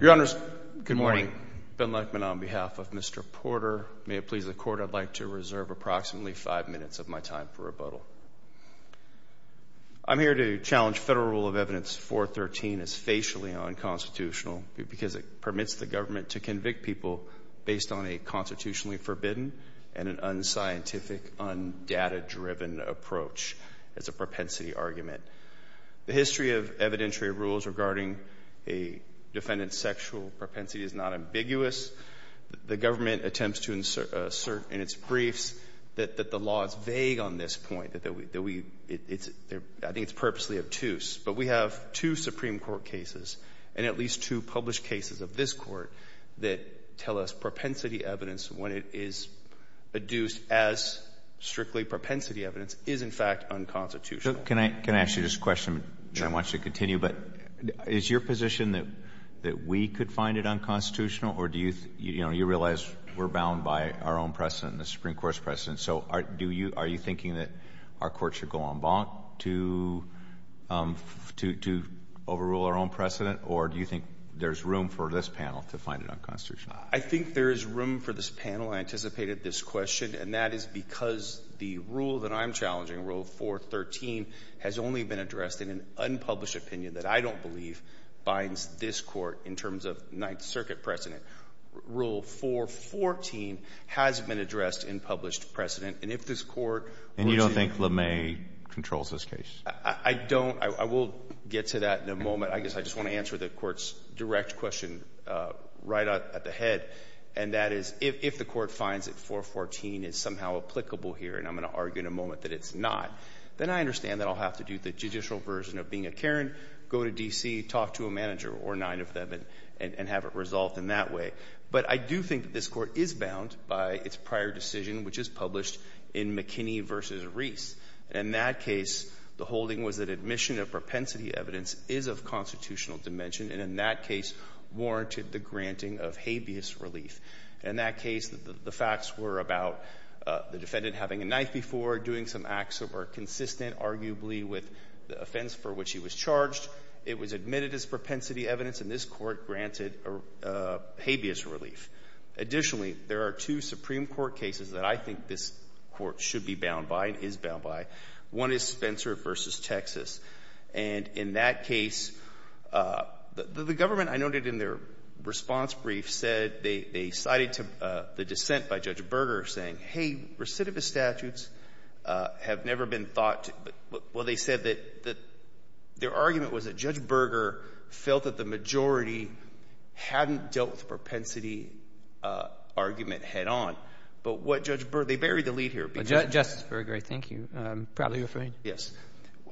Your Honors, good morning. Ben Lichtman on behalf of Mr. Porter. May it please the Court, I'd like to reserve approximately five minutes of my time for rebuttal. I'm here to challenge Federal Rule of Evidence 413 as facially unconstitutional because it permits the government to convict people based on a constitutionally forbidden and an unscientific, undata-driven approach. It's a propensity argument. The history of evidentiary rules regarding a defendant's sexual propensity is not ambiguous. The government attempts to assert in its briefs that the law is vague on this point, that we – it's – I think it's purposely obtuse. But we have two Supreme Court cases and at least two published cases of this Court that tell us propensity evidence, when it is adduced as strictly propensity evidence, is, in fact, unconstitutional. Alito Can I – can I ask you this question, which I want you to continue? But is your position that we could find it unconstitutional, or do you – you know, you realize we're bound by our own precedent, the Supreme Court's precedent. So do you – are you thinking that our Court should go en banc to – to overrule our own precedent, or do you think there's room for this panel to find it unconstitutional? I think there is room for this panel. I anticipated this question, and that is because the rule that I'm challenging, Rule 413, has only been addressed in an unpublished opinion that I don't believe binds this Court in terms of Ninth Circuit precedent. Rule 414 has been addressed in published precedent, and if this Court were to – And you don't think LeMay controls this case? I don't. I will get to that in a moment. I guess I just want to answer the Court's direct question right at the head, and that is, if the Court finds that 414 is somehow applicable here, and I'm going to argue in a moment that it's not, then I understand that I'll have to do the judicial version of being a Karen, go to D.C., talk to a manager or nine of them, and have it resolved in that way. But I do think that this Court is bound by its prior decision, which is published in McKinney v. Reese. In that case, the holding was that admission of propensity evidence is of constitutional dimension, and in that case warranted the granting of habeas relief. In that case, the facts were about the defendant having a knife before, doing some acts that were consistent, arguably, with the offense for which he was charged. It was admitted as propensity evidence, and this Court granted habeas relief. Additionally, there are two Supreme Court cases that I think this Court should be bound by and is bound by. One is Spencer v. Texas. And in that case, the government, I noted in their response brief, said they cited the dissent by Judge Berger saying, hey, recidivist statutes have never been thought to — well, they said that their argument was that Judge Berger felt that the majority hadn't dealt with the propensity argument head-on. But what Judge Berger — they buried the lead here. Justice Berger, thank you. I'm proudly afraid. Yes.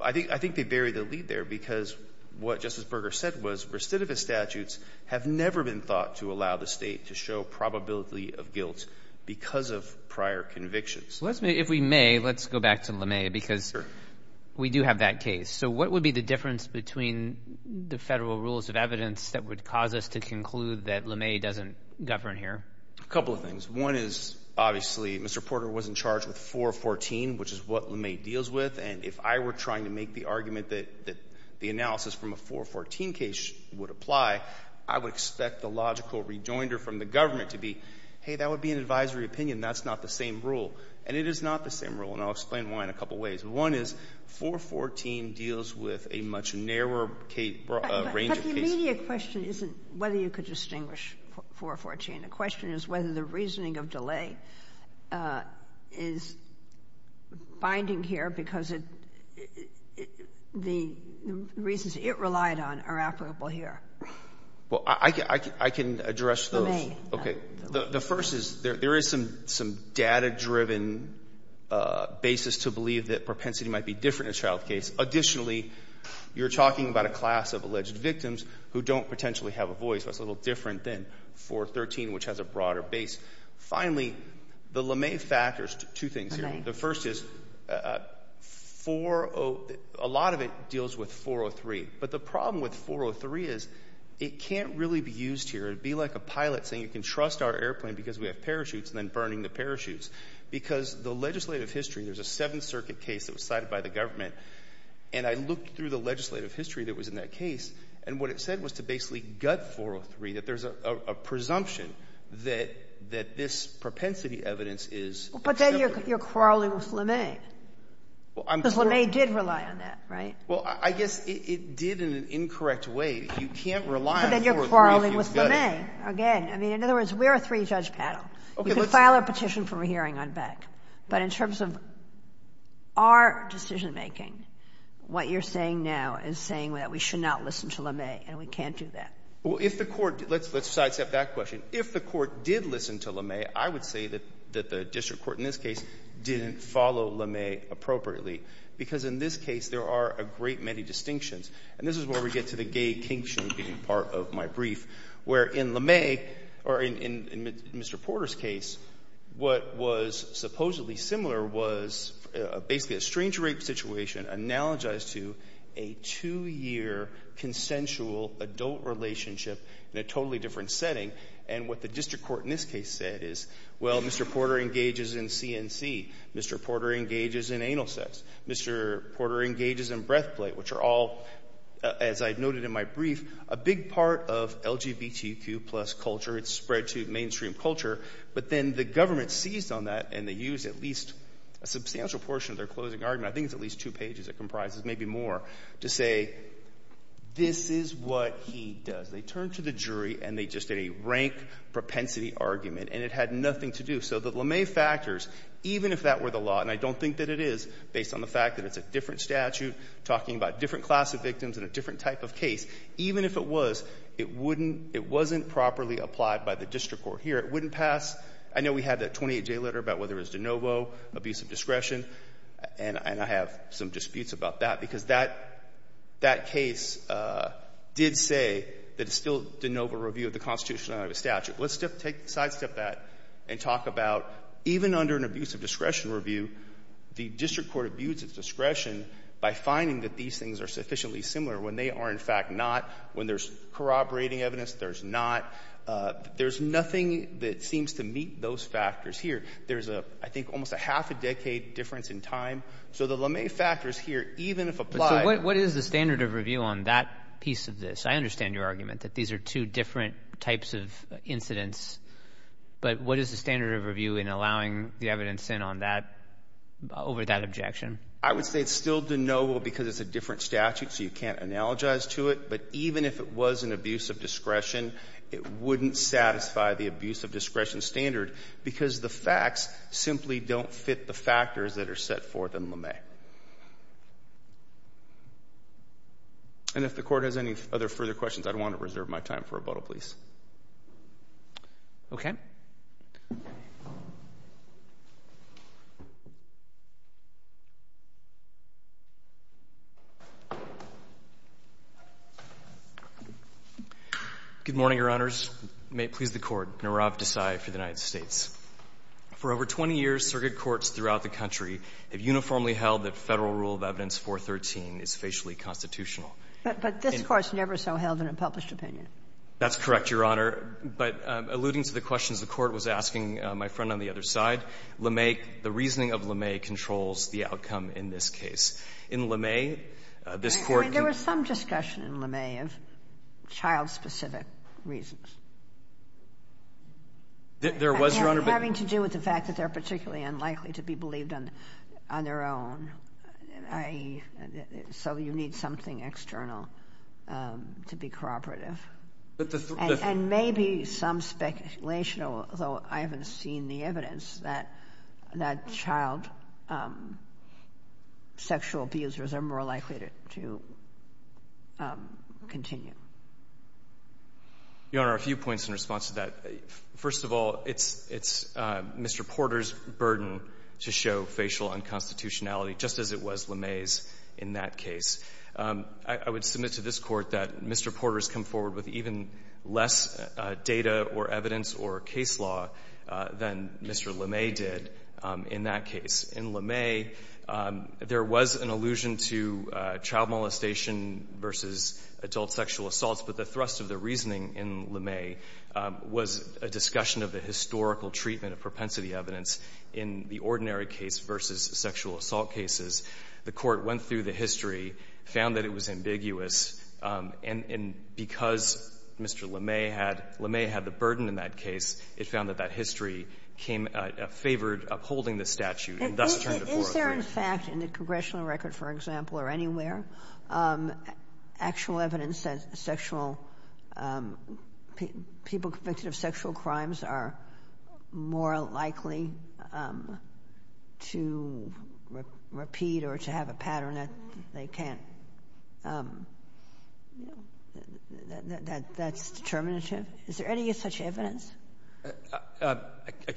I think they buried the lead there because what Justice Berger said was recidivist statutes have never been thought to allow the State to show probability of guilt because of prior convictions. If we may, let's go back to LeMay because we do have that case. So what would be the difference between the federal rules of evidence that would cause us to conclude that LeMay doesn't govern here? A couple of things. One is, obviously, Mr. Porter was in charge with 414, which is what LeMay deals with. And if I were trying to make the argument that the analysis from a 414 case would apply, I would expect the logical rejoinder from the government to be, hey, that would be an advisory opinion. That's not the same rule. And it is not the same rule, and I'll explain why in a couple ways. One is 414 deals with a much narrower range of cases. But the immediate question isn't whether you could distinguish 414. And the question is whether the reasoning of delay is binding here because the reasons it relied on are applicable here. Well, I can address those. The first is there is some data-driven basis to believe that propensity might be different in a child case. Additionally, you're talking about a class of alleged victims who don't potentially have a voice. That's a little different than 413, which has a broader base. Finally, the LeMay factors, two things here. The first is a lot of it deals with 403. But the problem with 403 is it can't really be used here. It would be like a pilot saying you can trust our airplane because we have parachutes and then burning the parachutes. Because the legislative history, there's a Seventh Circuit case that was cited by the government. And I looked through the legislative history that was in that case. And what it said was to basically gut 403, that there's a presumption that this propensity evidence is different. But then you're quarreling with LeMay because LeMay did rely on that, right? Well, I guess it did in an incorrect way. You can't rely on 403 if you gut it. But then you're quarreling with LeMay again. I mean, in other words, we're a three-judge paddle. You can file a petition for a hearing on Beck. But in terms of our decision-making, what you're saying now is saying that we should not listen to LeMay and we can't do that. Well, if the court – let's sidestep that question. If the court did listen to LeMay, I would say that the district court in this case didn't follow LeMay appropriately. Because in this case, there are a great many distinctions. And this is where we get to the gay kink-shaming part of my brief, where in LeMay or in Mr. Porter's case, what was supposedly similar was basically a strange rape situation analogized to a two-year consensual adult relationship in a totally different setting. And what the district court in this case said is, well, Mr. Porter engages in CNC. Mr. Porter engages in anal sex. Mr. Porter engages in breath plate, which are all, as I noted in my brief, a big part of LGBTQ plus culture. It's spread to mainstream culture. But then the government seized on that, and they used at least a substantial portion of their closing argument – I think it's at least two pages, it comprises maybe more – to say, this is what he does. They turned to the jury, and they just did a rank propensity argument, and it had nothing to do. So the LeMay factors, even if that were the law, and I don't think that it is, based on the fact that it's a different statute talking about different class of victims and a different type of case, even if it was, it wouldn't – it wasn't properly applied by the district court here. It wouldn't pass. I know we had that 28-J letter about whether it was de novo, abuse of discretion, and I have some disputes about that because that case did say that it's still de novo review of the Constitution, not of a statute. Let's take a sidestep that and talk about even under an abuse of discretion review, the district court abuses discretion by finding that these things are sufficiently similar when they are in fact not. When there's corroborating evidence, there's not. There's nothing that seems to meet those factors here. There's, I think, almost a half a decade difference in time. So the LeMay factors here, even if applied – So what is the standard of review on that piece of this? I understand your argument that these are two different types of incidents, but what is the standard of review in allowing the evidence in on that, over that objection? I would say it's still de novo because it's a different statute, so you can't analogize to it. But even if it was an abuse of discretion, it wouldn't satisfy the abuse of discretion standard because the facts simply don't fit the factors that are set forth in LeMay. Okay. And if the Court has any other further questions, I'd want to reserve my time for rebuttal, please. Okay. Good morning, Your Honors. May it please the Court. Nirav Desai for the United States. For over 20 years, circuit courts throughout the country have uniformly held that Federal Rule of Evidence 413 is facially constitutional. But this Court's never so held in a published opinion. That's correct, Your Honor. But alluding to the questions the Court was asking my friend on the other side, LeMay – the reasoning of LeMay controls the outcome in this case. In LeMay, this Court can – I mean, there was some discussion in LeMay of child-specific reasons. There was, Your Honor, but – Having to do with the fact that they're particularly unlikely to be believed on their own. So you need something external to be cooperative. But the – And maybe some speculation, although I haven't seen the evidence, that child sexual abusers are more likely to continue. Your Honor, a few points in response to that. First of all, it's Mr. Porter's burden to show facial unconstitutionality, just as it was LeMay's in that case. I would submit to this Court that Mr. Porter's come forward with even less data or evidence or case law than Mr. LeMay did in that case. In LeMay, there was an allusion to child molestation versus adultery. There was an allusion to child sexual assaults, but the thrust of the reasoning in LeMay was a discussion of the historical treatment of propensity evidence in the ordinary case versus sexual assault cases. The Court went through the history, found that it was ambiguous, and because Mr. LeMay had the burden in that case, it found that that history came – favored upholding the statute and thus turned to 403. Are there, in fact, in the congressional record, for example, or anywhere, actual evidence that sexual – people convicted of sexual crimes are more likely to repeat or to have a pattern that they can't – that's determinative? Is there any such evidence?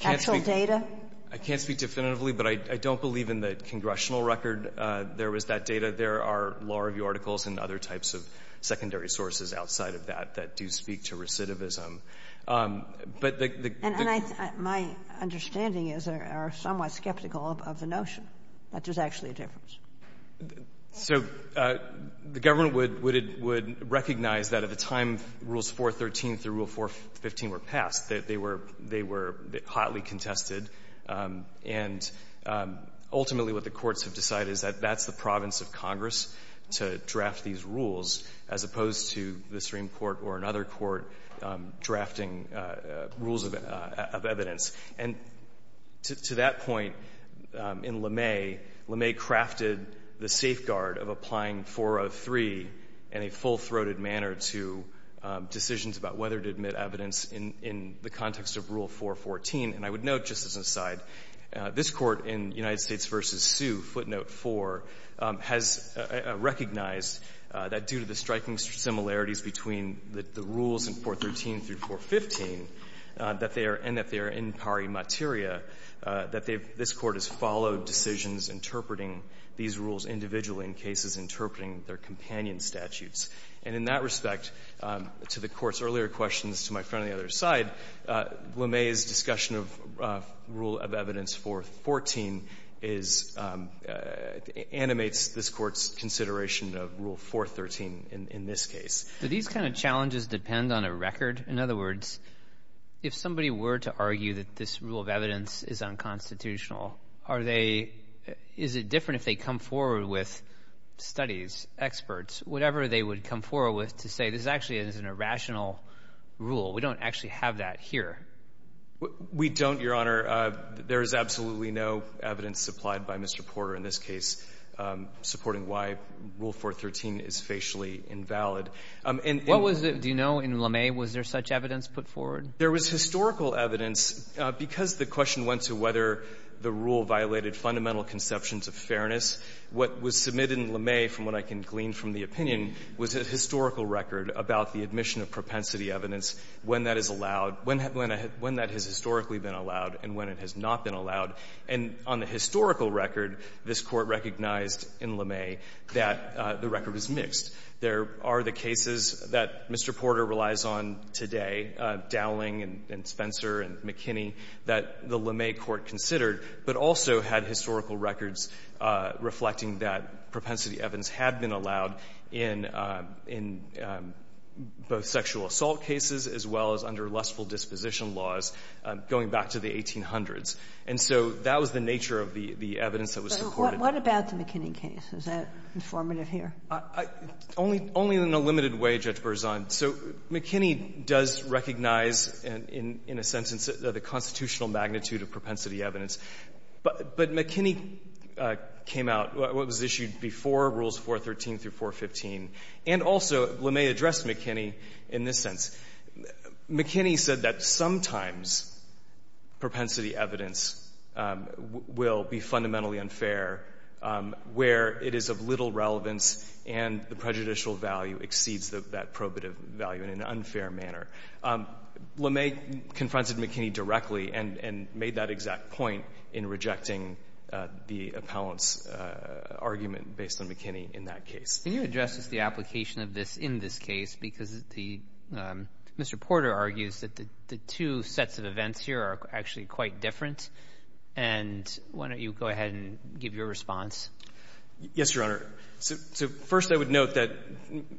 Actual data? I can't speak definitively, but I don't believe in the congressional record there was that data. There are law review articles and other types of secondary sources outside of that that do speak to recidivism. But the – And I – my understanding is they are somewhat skeptical of the notion that there's actually a difference. So the government would – would recognize that at the time Rules 413 through Rule 415 were passed, that they were – they were hotly contested. And ultimately, what the courts have decided is that that's the province of Congress to draft these rules as opposed to the Supreme Court or another court drafting rules of evidence. And to that point, in LeMay, LeMay crafted the safeguard of applying 403 in a full-throated manner to decisions about whether to admit evidence in – in the context of Rule 414. And I would note, just as an aside, this Court in United States v. Sioux, footnote 4, has recognized that due to the striking similarities between the rules in 413 through 415, that they are – and that they are in pari materia, that they've – this Court has followed decisions interpreting these rules individually in cases interpreting their companion statutes. And in that respect, to the Court's earlier questions, to my friend on the other side, LeMay's discussion of Rule of Evidence 414 is – animates this Court's consideration of Rule 413 in – in this case. But these kind of challenges depend on a record? In other words, if somebody were to argue that this rule of evidence is unconstitutional, are they – is it different if they come forward with studies, experts, whatever they would come forward with to say this actually is an irrational rule? We don't actually have that here. We don't, Your Honor. There is absolutely no evidence supplied by Mr. Porter in this case supporting why Rule 413 is facially invalid. And – What was it – do you know, in LeMay, was there such evidence put forward? There was historical evidence. Because the question went to whether the rule violated fundamental conceptions of fairness, what was submitted in LeMay, from what I can glean from the opinion, was a historical record about the admission of propensity evidence, when that is allowed, when that has historically been allowed, and when it has not been allowed. And on the historical record, this Court recognized in LeMay that the record was mixed. There are the cases that Mr. Porter relies on today, Dowling and Spencer and McKinney, that the LeMay court considered, but also had historical records reflecting that propensity evidence had been allowed in both sexual assault cases as well as under lustful disposition laws going back to the 1800s. And so that was the nature of the evidence that was supported. What about the McKinney case? Is that informative here? Only in a limited way, Judge Berzon. So McKinney does recognize in a sentence the constitutional magnitude of propensity evidence. But McKinney came out, what was issued before Rules 413 through 415, and also LeMay addressed McKinney in this sense. McKinney said that sometimes propensity evidence will be fundamentally unfair where it is of little relevance and the prejudicial value exceeds that probative value in an unfair manner. LeMay confronted McKinney directly and made that exact point in rejecting the appellant's argument based on McKinney in that case. Can you address the application of this in this case? Because the Mr. Porter argues that the two sets of events here are actually quite different. And why don't you go ahead and give your response? Yes, Your Honor. So first I would note that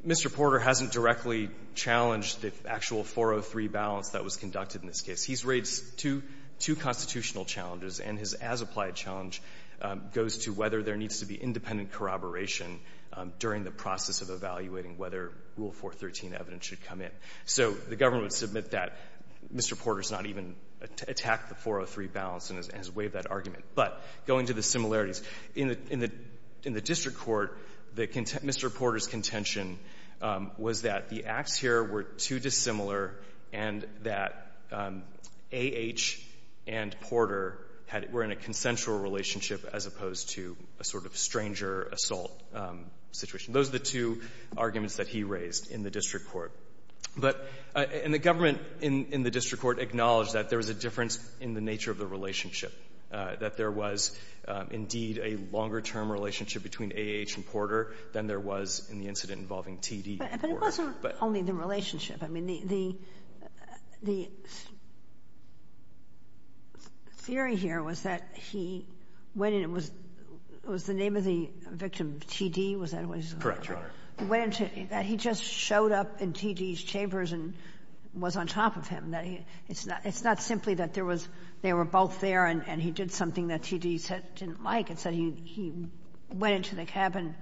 Mr. Porter hasn't directly challenged the actual 403 balance that was conducted in this case. He's raised two constitutional challenges, and his as-applied challenge goes to whether there needs to be independent corroboration during the process of evaluating whether Rule 413 evidence should come in. So the government would submit that Mr. Porter has not even attacked the 403 balance and has waived that argument. But going to the similarities, in the district court, Mr. Porter's contention was that the acts here were too dissimilar and that A.H. and Porter had — were in a consensual relationship as opposed to a sort of stranger assault situation. Those are the two arguments that he raised in the district court. But — and the government in the district court acknowledged that there was a difference in the nature of the relationship, that there was indeed a longer-term relationship between A.H. and Porter than there was in the incident involving T.D. Porter. But it wasn't only the relationship. I mean, the — the theory here was that he went in and was — was the name of the victim T.D.? Was that what he was? Correct, Your Honor. He went into — that he just showed up in T.D.'s chambers and was on top of him, that he — it's not — it's not simply that there was — they were both there and he did something that T.D. said he didn't like. It's that he went into the cabin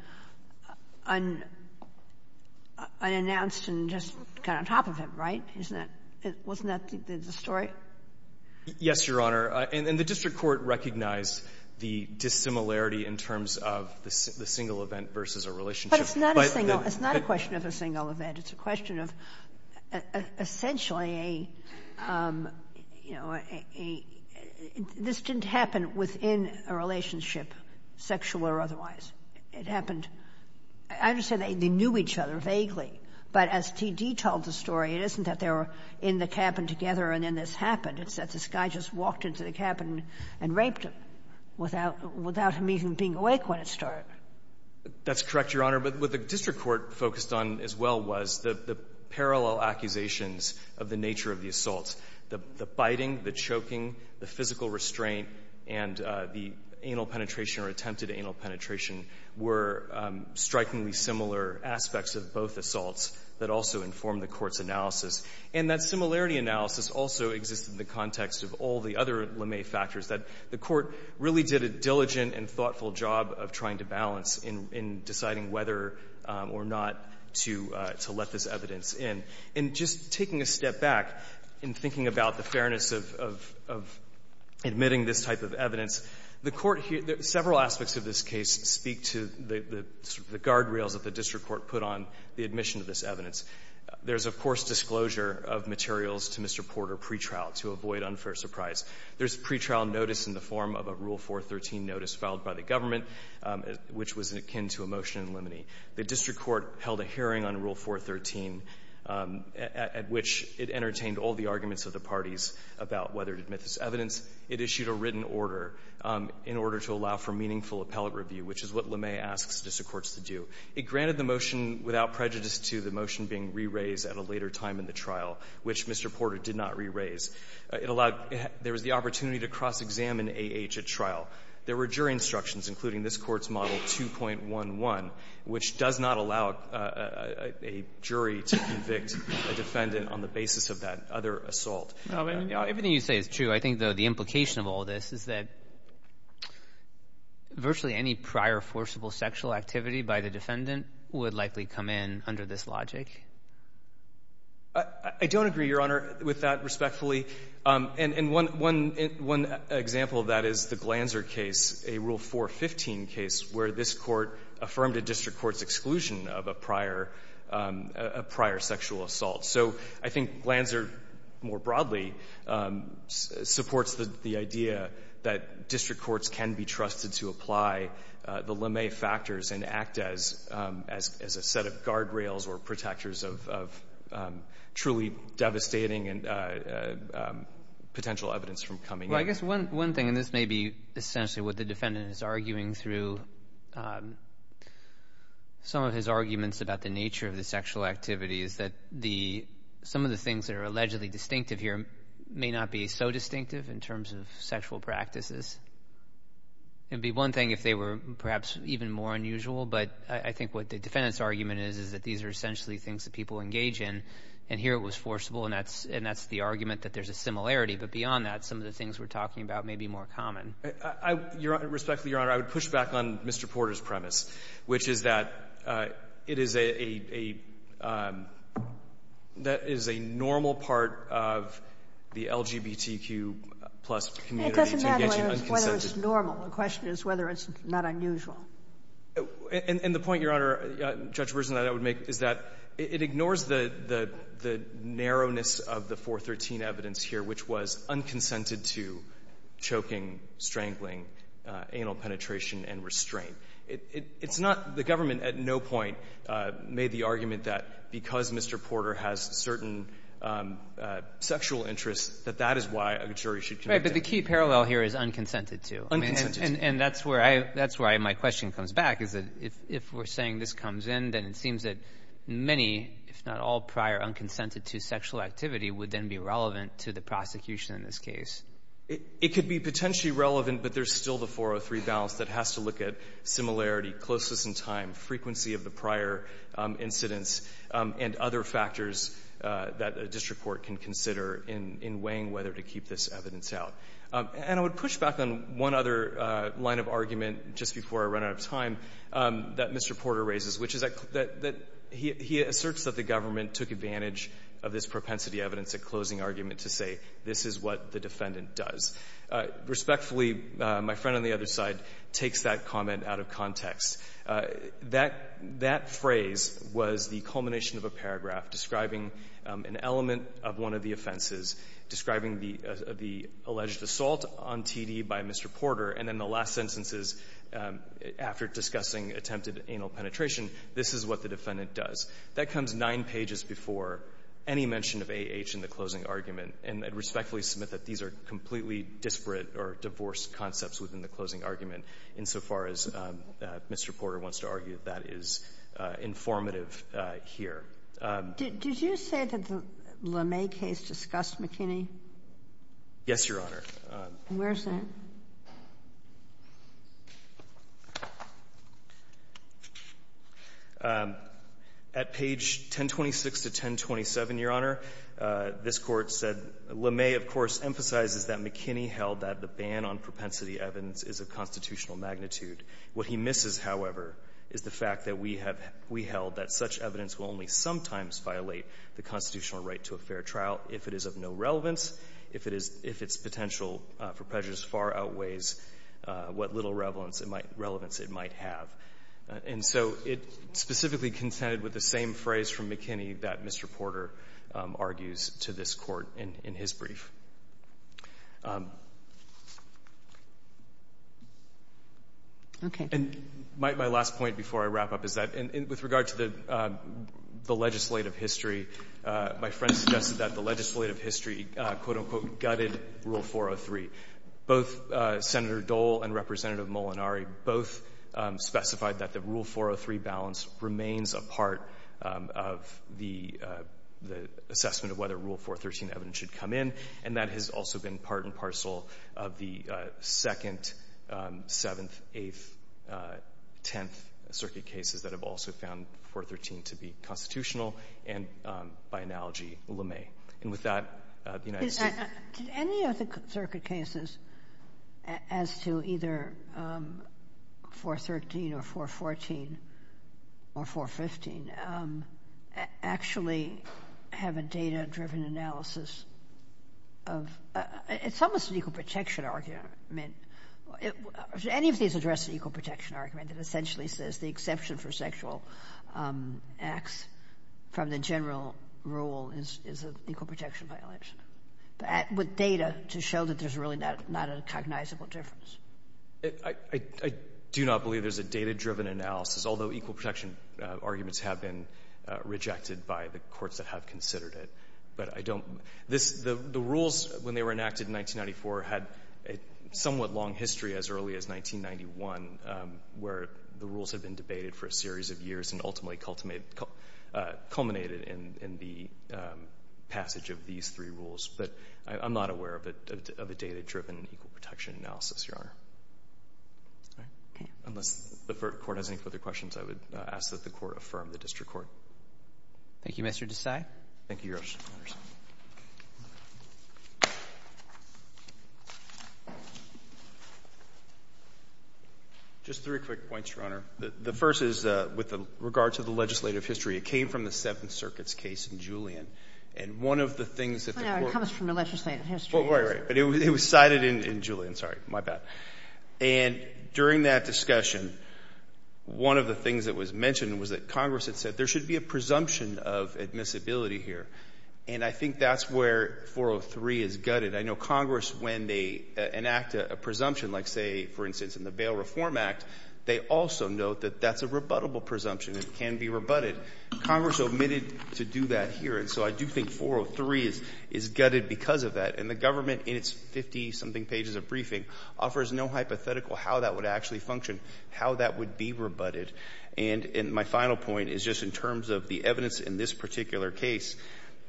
unannounced and just got on top of him, right? Isn't that — wasn't that the story? Yes, Your Honor. And the district court recognized the dissimilarity in terms of the single event versus a relationship. But it's not a single — it's not a question of a single event. It's a question of essentially a — you know, a — this didn't happen within a relationship, sexual or otherwise. It happened — I understand they knew each other vaguely, but as T.D. told the story, it isn't that they were in the cabin together and then this happened. It's that this guy just walked into the cabin and raped him without — without him even being awake when it started. That's correct, Your Honor. But what the district court focused on as well was the parallel accusations of the nature of the assaults. The — the biting, the choking, the physical restraint, and the anal penetration or attempted anal penetration were strikingly similar aspects of both assaults that also informed the Court's analysis. And that similarity analysis also exists in the context of all the other the Court really did a diligent and thoughtful job of trying to balance in deciding whether or not to let this evidence in. And just taking a step back and thinking about the fairness of admitting this type of evidence, the Court — several aspects of this case speak to the guardrails that the district court put on the admission of this evidence. There's, of course, disclosure of materials to Mr. Porter pretrial to avoid unfair surprise. There's pretrial notice in the form of a Rule 413 notice filed by the government, which was akin to a motion in Limney. The district court held a hearing on Rule 413 at which it entertained all the arguments of the parties about whether to admit this evidence. It issued a written order in order to allow for meaningful appellate review, which is what Limney asks district courts to do. It granted the motion without prejudice to the motion being re-raised at a later time in the trial, which Mr. Porter did not re-raise. It allowed — there was the opportunity to cross-examine A.H. at trial. There were jury instructions, including this Court's Model 2.11, which does not allow a jury to convict a defendant on the basis of that other assault. I mean, you know, everything you say is true. I think, though, the implication of all this is that virtually any prior forcible sexual activity by the defendant would likely come in under this logic. I don't agree, Your Honor, with that respectfully. And one example of that is the Glanzer case, a Rule 415 case, where this Court affirmed a district court's exclusion of a prior sexual assault. So I think Glanzer, more broadly, supports the idea that as a set of guardrails or protectors of truly devastating and potential evidence from coming in. Well, I guess one thing, and this may be essentially what the defendant is arguing through some of his arguments about the nature of the sexual activity, is that the — some of the things that are allegedly distinctive here may not be so distinctive in terms of sexual practices. It would be one thing if they were perhaps even more unusual, but I think what the defendant's argument is, is that these are essentially things that people engage in. And here it was forcible, and that's — and that's the argument that there's a similarity. But beyond that, some of the things we're talking about may be more common. Respectfully, Your Honor, I would push back on Mr. Porter's premise, which is that it is a — that it is a normal part of the LGBTQ-plus community to engage in unconsensual It doesn't matter whether it's normal. The question is whether it's not unusual. And the point, Your Honor, Judge Berzin, that I would make is that it ignores the narrowness of the 413 evidence here, which was unconsented to choking, strangling, anal penetration and restraint. It's not — the government at no point made the argument that because Mr. Porter has certain sexual interests, that that is why a jury should convict him. Right. But the key parallel here is unconsented to. Unconsented to. And that's where I — that's where my question comes back, is that if we're saying this comes in, then it seems that many, if not all, prior unconsented to sexual activity would then be relevant to the prosecution in this case. It could be potentially relevant, but there's still the 403 balance that has to look at similarity, closeness in time, frequency of the prior incidents, and other factors that a district court can consider in weighing whether to keep this evidence out. And I would push back on one other line of argument just before I run out of time that Mr. Porter raises, which is that he asserts that the government took advantage of this propensity evidence at closing argument to say this is what the defendant does. Respectfully, my friend on the other side takes that comment out of context. That — that phrase was the culmination of a paragraph describing an element of one of the offenses, describing the — the alleged assault on T.D. by Mr. Porter, and then the last sentence is, after discussing attempted anal penetration, this is what the defendant does. That comes nine pages before any mention of A.H. in the closing argument, and I'd respectfully submit that these are completely disparate or divorced concepts within the closing argument insofar as Mr. Porter wants to argue that that is informative here. Did you say that the LeMay case discussed McKinney? Yes, Your Honor. Where is that? At page 1026 to 1027, Your Honor, this Court said, LeMay, of course, emphasizes that McKinney held that the ban on propensity evidence is of constitutional magnitude. What he misses, however, is the fact that we have — we held that such evidence will only sometimes violate the constitutional right to a fair trial if it is of no relevance, if it is — if its potential for prejudice far outweighs what little relevance it might have. And so it specifically consented with the same phrase from McKinney that Mr. Porter argues to this Court in his brief. Okay. And my last point before I wrap up is that — and with regard to the legislative history, my friend suggested that the legislative history, quote-unquote, gutted Rule 403. Both Senator Dole and Representative Molinari both specified that the Rule 403 balance remains a part of the assessment of whether Rule 413 evidence should come in, and that has also been part and parcel of the second, seventh, eighth, tenth circuit cases that have also found 413 to be constitutional and, by analogy, LeMay. And with that, the United States — Did any of the circuit cases as to either 413 or 414 or 415 actually have a data-driven analysis of — it's almost an equal protection argument. Did any of these address the equal protection argument that essentially says the exception for sexual acts from the general rule is an equal protection violation? But with data to show that there's really not a cognizable difference. I do not believe there's a data-driven analysis, although equal protection arguments have been rejected by the courts that have considered it. But I don't The rules, when they were enacted in 1994, had a somewhat long history as early as 1991 where the rules had been debated for a series of years and ultimately culminated in the passage of these three rules. But I'm not aware of a data-driven equal protection analysis, Your Honor. Unless the Court has any further questions, I would ask that the Court affirm the district court. Thank you, Mr. Desai. Thank you, Your Honor. Just three quick points, Your Honor. The first is with regard to the legislative history. It came from the Seventh Circuit's case in Julian. And one of the things that the Court — No, it comes from the legislative history. Right, right. But it was cited in Julian. Sorry. My bad. And during that discussion, one of the things that was mentioned was that Congress had said there should be a And I think that's where 403 is gutted. I know Congress, when they enact a presumption like, say, for instance, in the Bail Reform Act, they also note that that's a rebuttable presumption. It can be rebutted. Congress omitted to do that here. And so I do think 403 is gutted because of that. And the government, in its 50-something pages of briefing, offers no hypothetical how that would actually function, how that would be rebutted. And my final point is just in terms of the evidence in this particular case,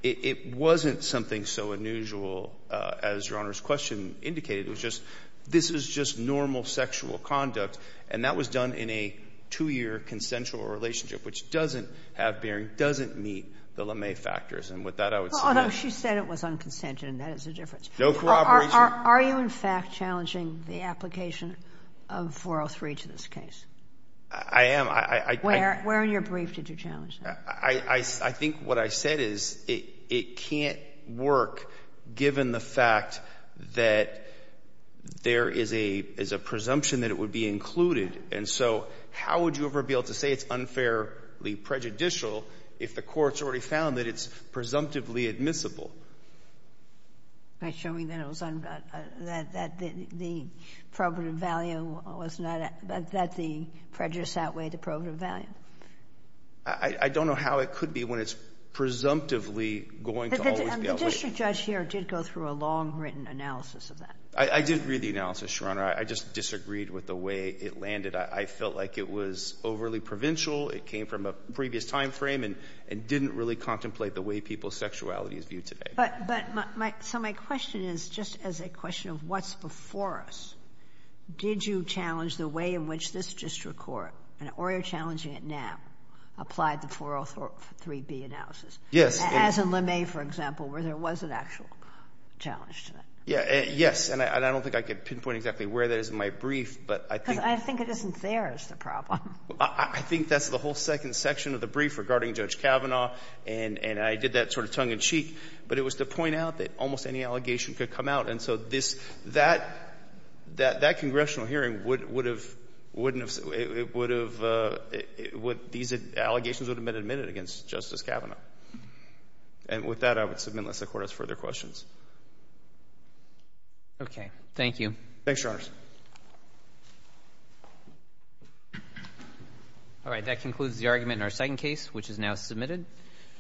it wasn't something so unusual, as Your Honor's question indicated. It was just — this is just normal sexual conduct. And that was done in a two-year consensual relationship, which doesn't have bearing, doesn't meet the LeMay factors. And with that, I would — Although she said it was unconsented, and that is the difference. No corroboration. Are you, in fact, challenging the application of 403 to this case? I am. I — Where in your brief did you challenge that? I think what I said is it can't work given the fact that there is a — is a presumption that it would be included. And so how would you ever be able to say it's unfairly prejudicial if the Court's already found that it's presumptively admissible? By showing that it was — that the probative value was not — that the prejudice outweighed the probative value. I don't know how it could be when it's presumptively going to always be outweighed. But the district judge here did go through a long-written analysis of that. I did read the analysis, Your Honor. I just disagreed with the way it landed. I felt like it was overly provincial, it came from a previous timeframe, and didn't really contemplate the way people's sexuality is viewed today. But my — so my question is, just as a question of what's before us, did you challenge the way in which this district court, or you're challenging it now, applied the 403B analysis? Yes. As in LeMay, for example, where there was an actual challenge to that. Yes. And I don't think I could pinpoint exactly where that is in my brief, but I think — Because I think it isn't there is the problem. I think that's the whole second section of the brief regarding Judge Kavanaugh. And I did that sort of tongue-in-cheek. But it was to point out that almost any allegation could come out. And so this — that congressional hearing would have — wouldn't have — it would have — these allegations would have been admitted against Justice Kavanaugh. And with that, I would submit, unless the Court has further questions. Okay. Thank you. Thanks, Your Honors. All right. That concludes the argument in our second case, which is now submitted.